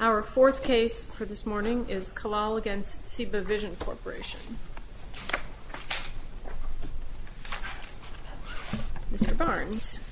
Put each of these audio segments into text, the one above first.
Our fourth case for this morning is Kallal v. CIBA Vision Corporation. Mr. Barnes.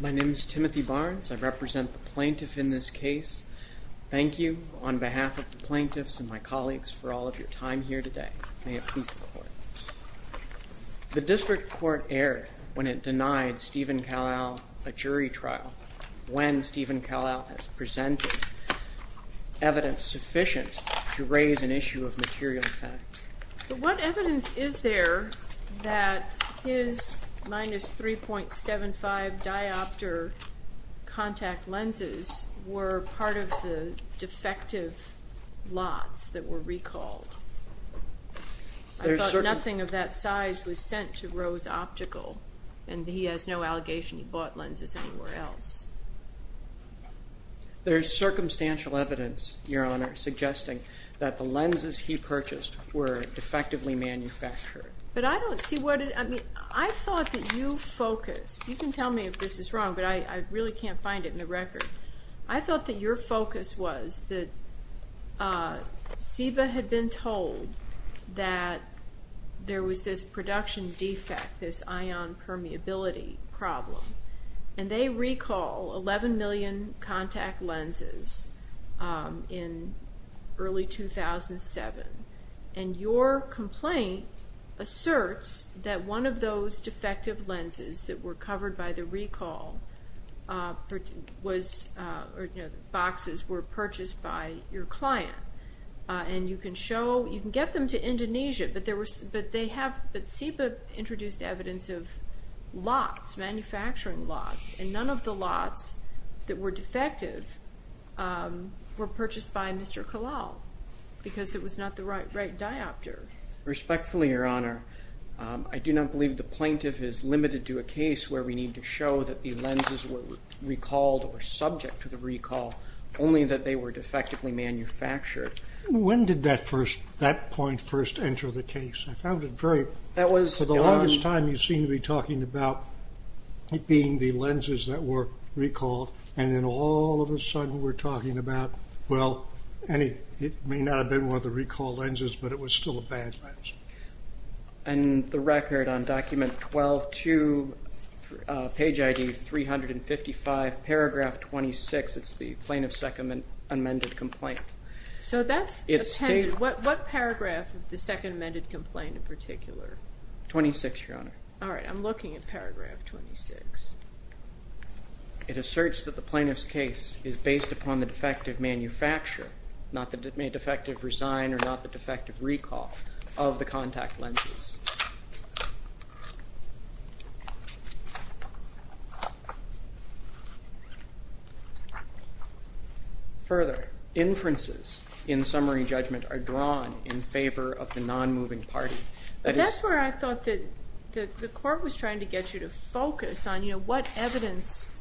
My name is Timothy Barnes. I represent the plaintiff in this case. Thank you on behalf of the plaintiffs and my colleagues for all of your time here today. May it please the Court. The district court erred when it denied Stephen Kallal a jury trial when Stephen Kallal has presented evidence sufficient to raise an issue of material fact. But what evidence is there that his minus 3.75 diopter contact lenses were part of the defective lots that were recalled? I thought nothing of that size was sent to Rose Optical, and he has no allegation he bought lenses anywhere else. There is circumstantial evidence, Your Honor, suggesting that the lenses he purchased were defectively manufactured. But I don't see what it, I mean, I thought that you focused, you can tell me if this is wrong, but I really can't find it in the record. I thought that your focus was that CIBA had been told that there was this production defect, this ion permeability problem. And they recall 11 million contact lenses in early 2007. And your complaint asserts that one of those defective lenses that were covered by the recall boxes were purchased by your client. And you can show, you can get them to Indonesia, but they have, but CIBA introduced evidence of lots, manufacturing lots, and none of the lots that were defective were purchased by Mr. Kalal because it was not the right diopter. Respectfully, Your Honor, I do not believe the plaintiff is limited to a case where we need to show that the lenses were recalled or subject to the recall, only that they were defectively manufactured. When did that first, that point first enter the case? I found it very, for the longest time you seem to be talking about it being the lenses that were recalled, and then all of a sudden we're talking about, well, it may not have been one of the recall lenses, but it was still a bad lens. And the record on document 12-2, page ID 355, paragraph 26, it's the plaintiff's second amended complaint. So that's, what paragraph of the second amended complaint in particular? 26, Your Honor. All right, I'm looking at paragraph 26. It asserts that the plaintiff's case is based upon the defective manufacture, not the defective resign or not the defective recall of the contact lenses. Further, inferences in summary judgment are drawn in favor of the non-moving party. But that's where I thought that the court was trying to get you to focus on, you know, what evidence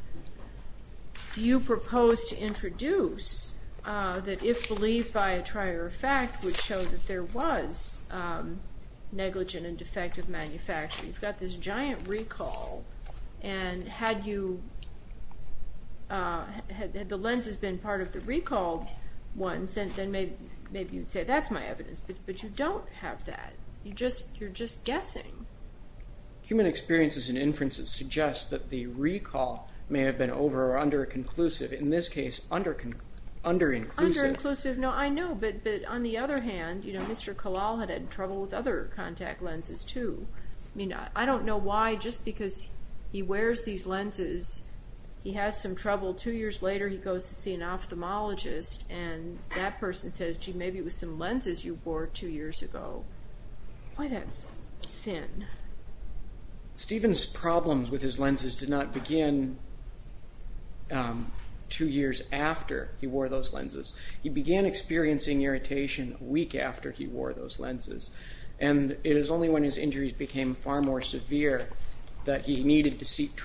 do you propose to introduce that if believed by a trier of fact would show that there was negligent infringement? You've got this giant recall, and had the lenses been part of the recalled ones, then maybe you'd say, that's my evidence. But you don't have that. You're just guessing. Human experiences and inferences suggest that the recall may have been over or under-inclusive. In this case, under-inclusive. Under-inclusive, no, I know. But on the other hand, you know, Mr. Kalal had had trouble with other contact lenses, too. I mean, I don't know why, just because he wears these lenses, he has some trouble. Two years later, he goes to see an ophthalmologist, and that person says, gee, maybe it was some lenses you wore two years ago. Why that's thin? Stephen's problems with his lenses did not begin two years after he wore those lenses. He began experiencing irritation a week after he wore those lenses. And it is only when his injuries became far more severe that he needed to seek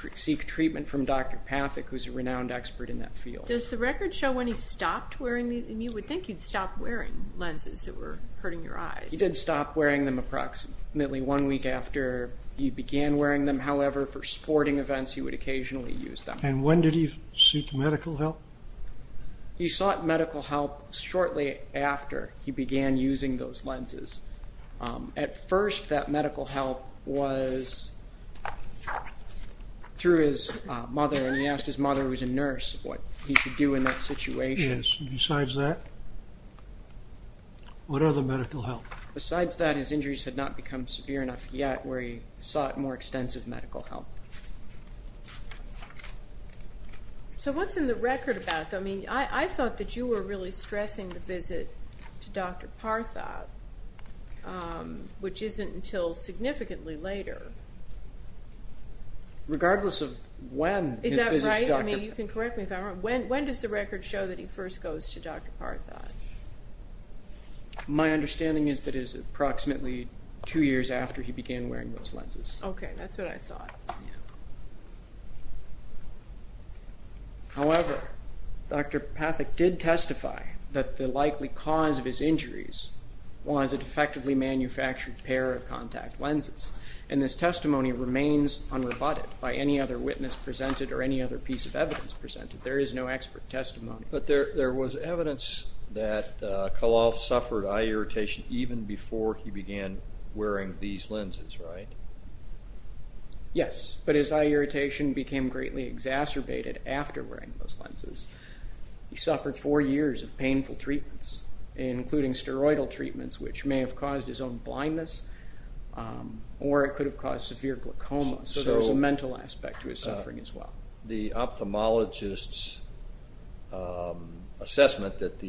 treatment from Dr. Pathak, who's a renowned expert in that field. Does the record show when he stopped wearing these? And you would think he'd stop wearing lenses that were hurting your eyes. He did stop wearing them approximately one week after he began wearing them. However, for sporting events, he would occasionally use them. And when did he seek medical help? He sought medical help shortly after he began using those lenses. At first, that medical help was through his mother, and he asked his mother, who's a nurse, what he should do in that situation. Yes, and besides that, what other medical help? Besides that, his injuries had not become severe enough yet where he sought more extensive medical help. So what's in the record about that? I mean, I thought that you were really stressing the visit to Dr. Pathak, which isn't until significantly later. Regardless of when his visit to Dr. Pathak? Is that right? I mean, you can correct me if I'm wrong. When does the record show that he first goes to Dr. Pathak? My understanding is that it is approximately two years after he began wearing those lenses. Okay, that's what I thought. However, Dr. Pathak did testify that the likely cause of his injuries was a defectively manufactured pair of contact lenses. And this testimony remains unrebutted by any other witness presented or any other piece of evidence presented. There is no expert testimony. But there was evidence that Kahlal suffered eye irritation even before he began wearing these lenses, right? Yes, but his eye irritation became greatly exacerbated after wearing those lenses. He suffered four years of painful treatments, including steroidal treatments, which may have caused his own blindness or it could have caused severe glaucoma. So there was a mental aspect to his suffering as well. The ophthalmologist's assessment that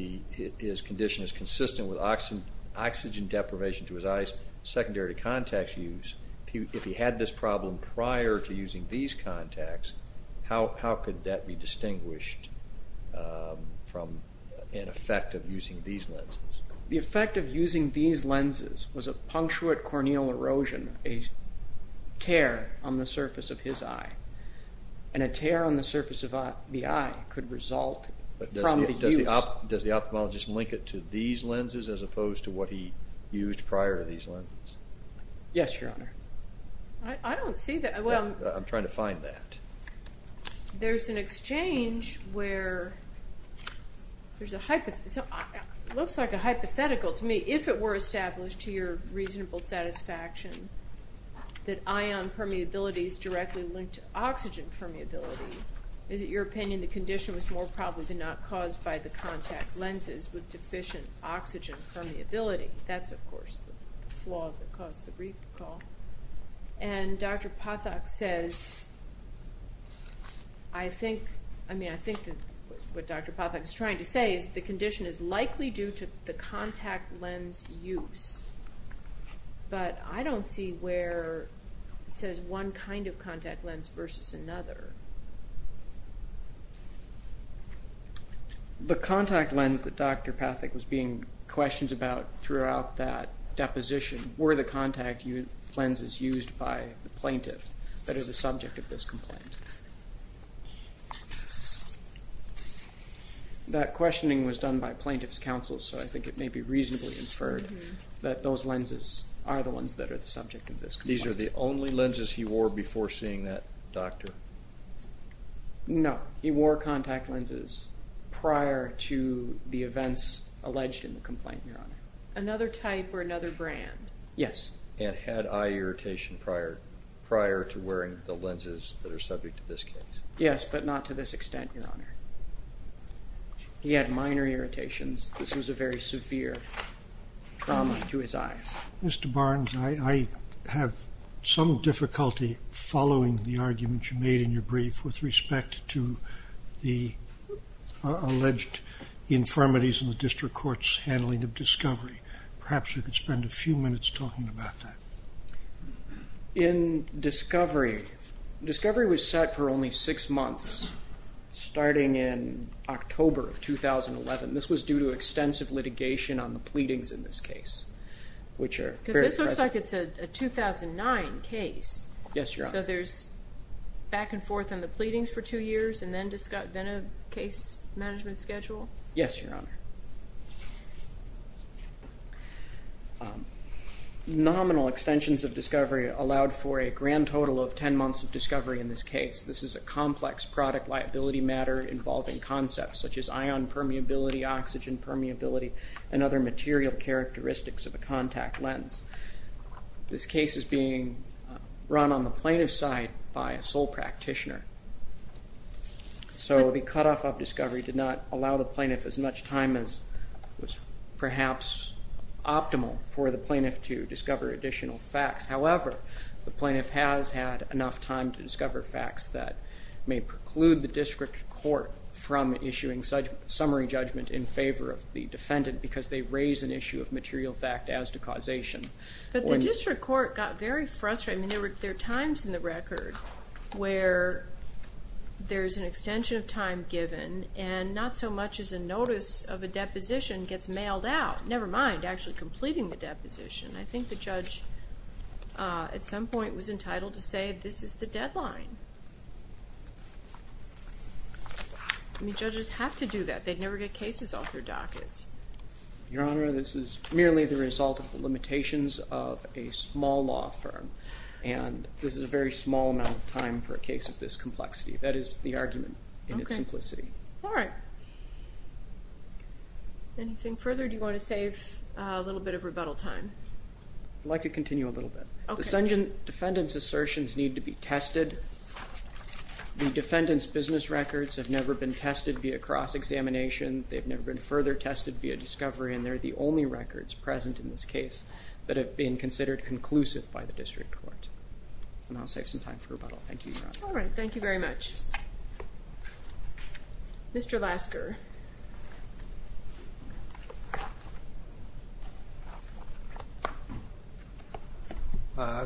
his condition is consistent with oxygen deprivation to his eyes, secondary to contact use, if he had this problem prior to using these contacts, how could that be distinguished from an effect of using these lenses? The effect of using these lenses was a punctuate corneal erosion, a tear on the surface of his eye. And a tear on the surface of the eye could result from the use. Does the ophthalmologist link it to these lenses as opposed to what he used prior to these lenses? Yes, Your Honor. I don't see that. I'm trying to find that. There's an exchange where there's a hypothetical. It looks like a hypothetical to me. If it were established to your reasonable satisfaction that ion permeability is directly linked to oxygen permeability, is it your opinion the condition was more probably not caused by the contact lenses with deficient oxygen permeability? That's, of course, the flaw that caused the recall. And Dr. Pathak says, I think what Dr. Pathak is trying to say is the condition is likely due to the contact lens use. But I don't see where it says one kind of contact lens versus another. The contact lens that Dr. Pathak was being questioned about throughout that deposition were the contact lenses used by the plaintiff that are the subject of this complaint. That questioning was done by plaintiff's counsel, so I think it may be reasonably inferred that those lenses are the ones that are the subject of this complaint. These are the only lenses he wore before seeing that doctor? No. He wore contact lenses prior to the events alleged in the complaint, Your Honor. Another type or another brand? Yes. And had eye irritation prior to wearing the lenses that are subject to this case? Yes, but not to this extent, Your Honor. This was a very severe trauma to his eyes. Mr. Barnes, I have some difficulty following the argument you made in your brief with respect to the alleged infirmities in the district court's handling of discovery. Perhaps you could spend a few minutes talking about that. In discovery, discovery was set for only six months starting in October of 2011. This was due to extensive litigation on the pleadings in this case, which are very present. Because this looks like it's a 2009 case. Yes, Your Honor. So there's back and forth on the pleadings for two years and then a case management schedule? Yes, Your Honor. Nominal extensions of discovery allowed for a grand total of 10 months of discovery in this case. This is a complex product liability matter involving concepts such as ion permeability, oxygen permeability, and other material characteristics of a contact lens. This case is being run on the plaintiff's side by a sole practitioner. So the cutoff of discovery did not allow the plaintiff as much time as was perhaps optimal for the plaintiff to discover additional facts. However, the plaintiff has had enough time to discover facts that may preclude the district court from issuing summary judgment in favor of the defendant because they raise an issue of material fact as to causation. But the district court got very frustrated. There are times in the record where there's an extension of time given and not so much as a notice of a deposition gets mailed out, never mind actually completing the deposition. I think the judge at some point was entitled to say this is the deadline. I mean, judges have to do that. They'd never get cases off their dockets. Your Honor, this is merely the result of the limitations of a small law firm, and this is a very small amount of time for a case of this complexity. That is the argument in its simplicity. All right. Anything further? Do you want to save a little bit of rebuttal time? I'd like to continue a little bit. The defendant's assertions need to be tested. The defendant's business records have never been tested via cross-examination. They've never been further tested via discovery, and they're the only records present in this case that have been considered conclusive by the district court. And I'll save some time for rebuttal. Thank you, Your Honor. All right. Thank you very much. Mr. Lasker.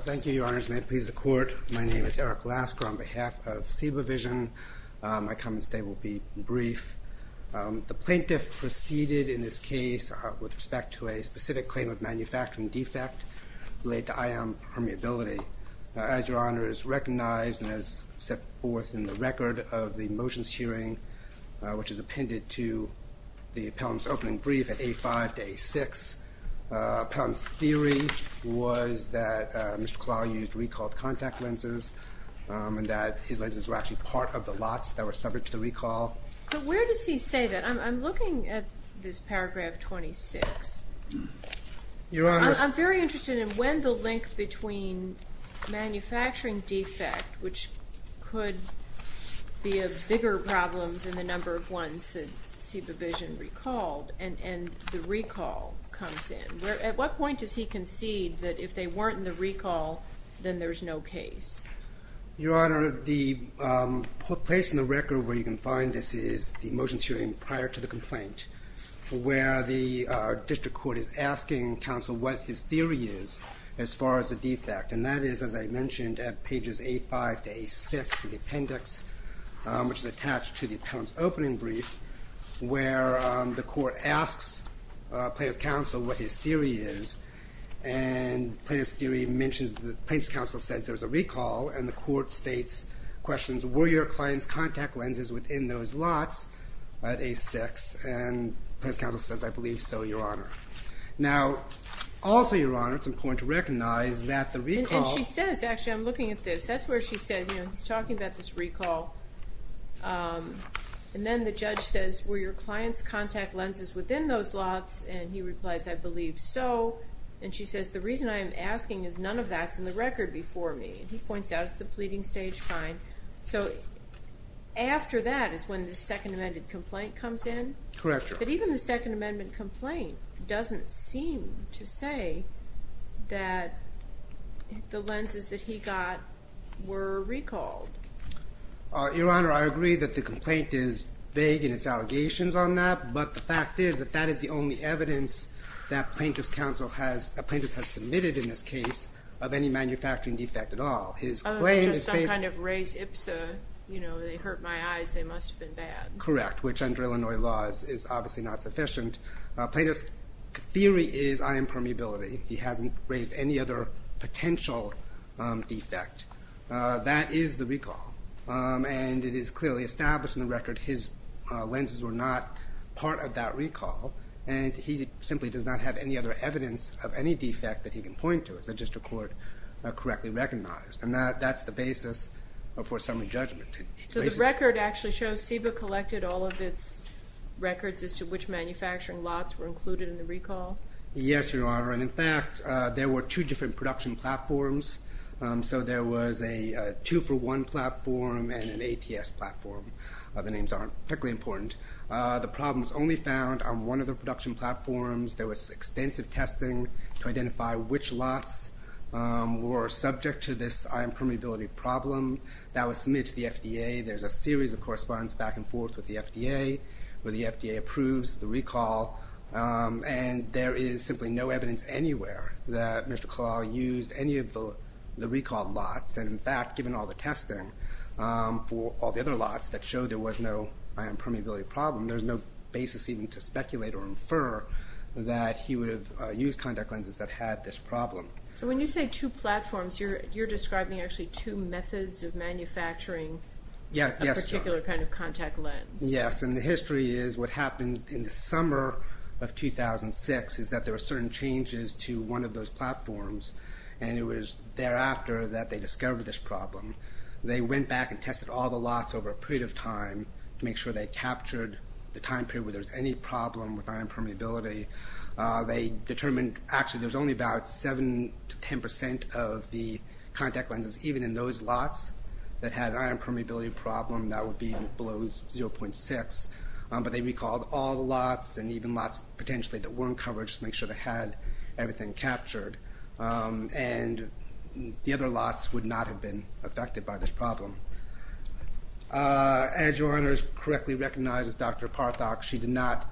Thank you, Your Honors, and may it please the Court. My name is Eric Lasker on behalf of SEBA Vision. My comments today will be brief. The plaintiff proceeded in this case with respect to a specific claim of manufacturing defect related to ion permeability. As Your Honor has recognized and has set forth in the record of the motions hearing, which is appended to the appellant's opening brief at A5 to A6, the appellant's theory was that Mr. Klaw used recalled contact lenses and that his lenses were actually part of the lots that were subject to the recall. But where does he say that? I'm looking at this paragraph 26. Your Honor. I'm very interested in when the link between manufacturing defect, which could be a bigger problem than the number of ones that SEBA Vision recalled, and the recall comes in. At what point does he concede that if they weren't in the recall, then there's no case? Your Honor, the place in the record where you can find this is the motions hearing prior to the complaint where the district court is asking counsel what his theory is as far as the defect, and that is, as I mentioned, at pages A5 to A6 in the appendix, which is attached to the appellant's opening brief, where the court asks plaintiff's counsel what his theory is, and the plaintiff's counsel says there's a recall, and the court states questions, were your client's contact lenses within those lots at A6? And the plaintiff's counsel says, I believe so, Your Honor. Now, also, Your Honor, it's important to recognize that the recall. And she says, actually, I'm looking at this. That's where she said, you know, he's talking about this recall. And then the judge says, were your client's contact lenses within those lots? And he replies, I believe so. And she says, the reason I'm asking is none of that's in the record before me. And he points out it's the pleading stage fine. So after that is when the Second Amendment complaint comes in? Correct, Your Honor. But even the Second Amendment complaint doesn't seem to say that the lenses that he got were recalled. Your Honor, I agree that the complaint is vague in its allegations on that, but the fact is that that is the only evidence that plaintiff's counsel has, plaintiff has submitted in this case, of any manufacturing defect at all. His claim is vague. Other than just some kind of raised IPSA, you know, they hurt my eyes. They must have been bad. Correct, which under Illinois laws is obviously not sufficient. Plaintiff's theory is ion permeability. He hasn't raised any other potential defect. That is the recall. And it is clearly established in the record his lenses were not part of that recall. And he simply does not have any other evidence of any defect that he can point to. It's just a court correctly recognized. And that's the basis for summary judgment. So the record actually shows SEBA collected all of its records as to which manufacturing lots were included in the recall? Yes, Your Honor. And, in fact, there were two different production platforms. So there was a two-for-one platform and an ATS platform. The names aren't particularly important. The problem was only found on one of the production platforms. There was extensive testing to identify which lots were subject to this ion permeability problem. That was submitted to the FDA. There's a series of correspondence back and forth with the FDA, where the FDA approves the recall. And there is simply no evidence anywhere that Mr. Kalal used any of the recalled lots. And, in fact, given all the testing for all the other lots that showed there was no ion permeability problem, there's no basis even to speculate or infer that he would have used contact lenses that had this problem. So when you say two platforms, you're describing actually two methods of manufacturing a particular kind of contact lens. Yes, and the history is what happened in the summer of 2006 is that there were certain changes to one of those platforms. And it was thereafter that they discovered this problem. They went back and tested all the lots over a period of time to make sure they captured the time period where there was any problem with ion permeability. They determined actually there was only about 7 to 10 percent of the contact lenses, even in those lots that had an ion permeability problem, that would be below 0.6. But they recalled all the lots and even lots potentially that weren't covered just to make sure they had everything captured. And the other lots would not have been affected by this problem. As Your Honors correctly recognize with Dr. Parthak, she did not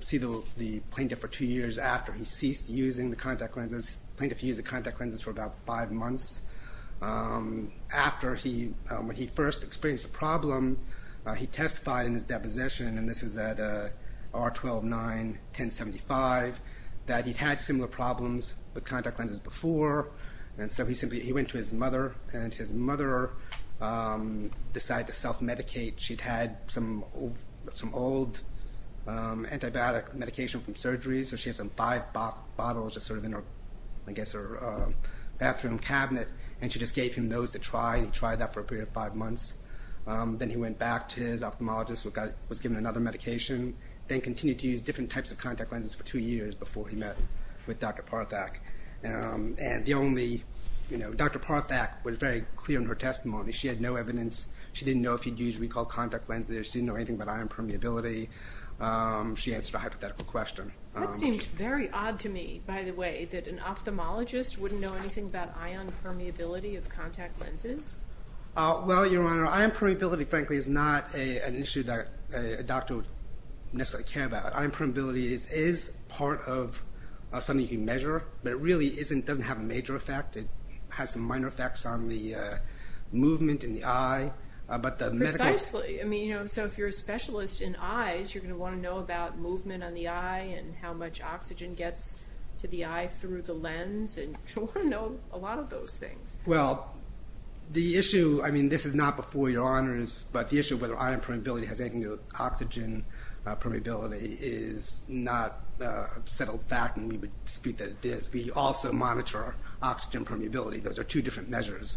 see the plaintiff for two years after he ceased using the contact lenses. The plaintiff used the contact lenses for about five months. After he first experienced a problem, he testified in his deposition, and this was at R-12-9-10-75, that he'd had similar problems with contact lenses before. And so he simply went to his mother, and his mother decided to self-medicate. She'd had some old antibiotic medication from surgery, so she had some five bottles just sort of in her bathroom cabinet, and she just gave him those to try, and he tried that for a period of five months. Then he went back to his ophthalmologist, was given another medication, then continued to use different types of contact lenses for two years before he met with Dr. Parthak. And Dr. Parthak was very clear in her testimony. She had no evidence. She didn't know if he'd used recalled contact lenses. She didn't know anything about ion permeability. She answered a hypothetical question. That seems very odd to me, by the way, that an ophthalmologist wouldn't know anything about ion permeability of contact lenses. Well, Your Honor, ion permeability, frankly, is not an issue that a doctor would necessarily care about. Ion permeability is part of something you can measure, but it really doesn't have a major effect. Precisely. I mean, so if you're a specialist in eyes, you're going to want to know about movement on the eye and how much oxygen gets to the eye through the lens. You'll want to know a lot of those things. Well, the issue, I mean, this is not before Your Honors, but the issue of whether ion permeability has anything to do with oxygen permeability is not a settled fact, and we would dispute that it is. We also monitor oxygen permeability. Those are two different measures.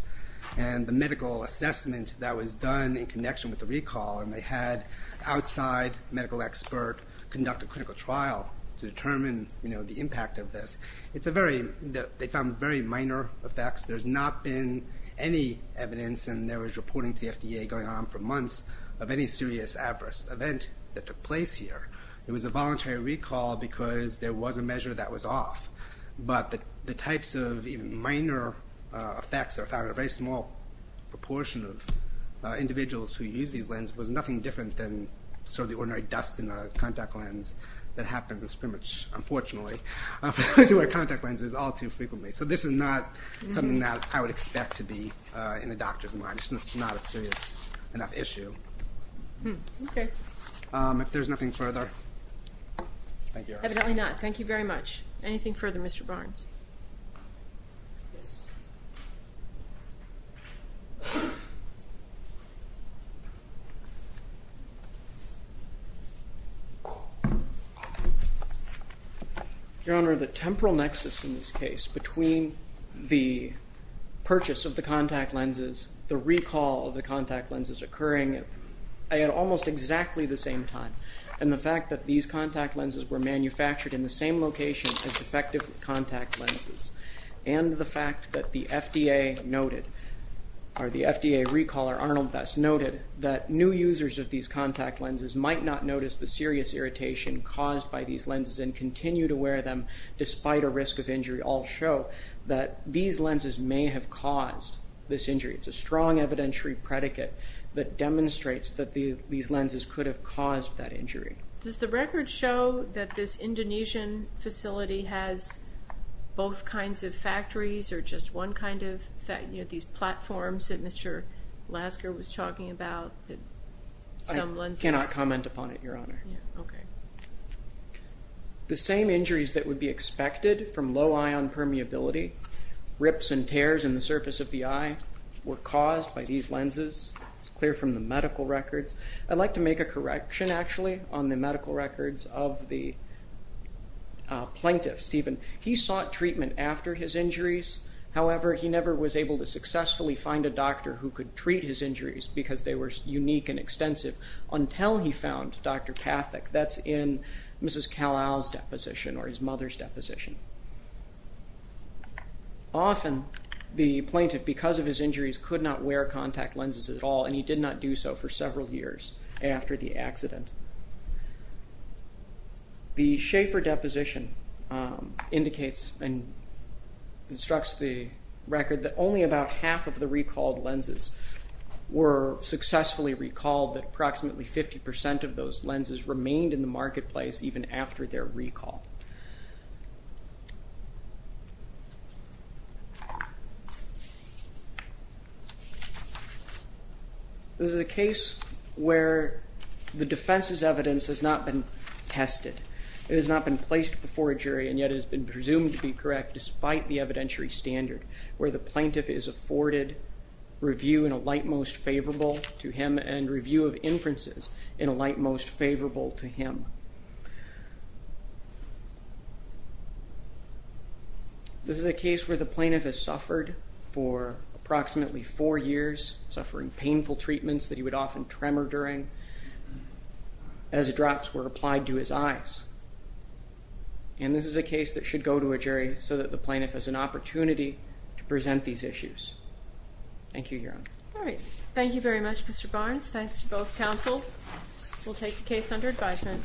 And the medical assessment that was done in connection with the recall, and they had an outside medical expert conduct a clinical trial to determine the impact of this, they found very minor effects. There's not been any evidence, and there was reporting to the FDA going on for months, of any serious adverse event that took place here. It was a voluntary recall because there was a measure that was off. But the types of even minor effects are found in a very small proportion of individuals who use these lenses. It was nothing different than sort of the ordinary dust in a contact lens that happens in spermage, unfortunately, to our contact lenses all too frequently. So this is not something that I would expect to be in a doctor's mind. It's just not a serious enough issue. If there's nothing further, thank you, Your Honors. Evidently not. Thank you very much. Anything further, Mr. Barnes? Your Honor, the temporal nexus in this case between the purchase of the contact lenses, the recall of the contact lenses occurring at almost exactly the same time, and the fact that these contact lenses were manufactured in the same location as defective contact lenses, and the fact that the FDA noted, or the FDA recaller Arnold Best noted, that new users of these contact lenses might not notice the serious irritation caused by these lenses and continue to wear them despite a risk of injury, all show that these lenses may have caused this injury. It's a strong evidentiary predicate that demonstrates that these lenses could have caused that injury. Does the record show that this Indonesian facility has both kinds of factories or just one kind of these platforms that Mr. Lasker was talking about? I cannot comment upon it, Your Honor. The same injuries that would be expected from low ion permeability, rips and tears in the surface of the eye, were caused by these lenses. It's clear from the medical records. I'd like to make a correction, actually, on the medical records of the plaintiff, Stephen. He sought treatment after his injuries. However, he never was able to successfully find a doctor who could treat his injuries because they were unique and extensive until he found Dr. Pathak. That's in Mrs. Kalal's deposition, or his mother's deposition. Often, the plaintiff, because of his injuries, could not wear contact lenses at all, and he did not do so for several years after the accident. The Schaefer deposition indicates and instructs the record that only about half of the recalled lenses were successfully recalled, that approximately 50% of those lenses remained in the marketplace even after their recall. This is a case where the defense's evidence has not been tested. It has not been placed before a jury, and yet it has been presumed to be correct despite the evidentiary standard where the plaintiff is afforded review in a light most favorable to him and review of inferences in a light most favorable to him. This is a case where the plaintiff has suffered for approximately four years, suffering painful treatments that he would often tremor during as drops were applied to his eyes. And this is a case that should go to a jury so that the plaintiff has an opportunity to present these issues. Thank you, Your Honor. All right. Thank you very much, Mr. Barnes. Thanks to both counsel. We'll take the case under advisement.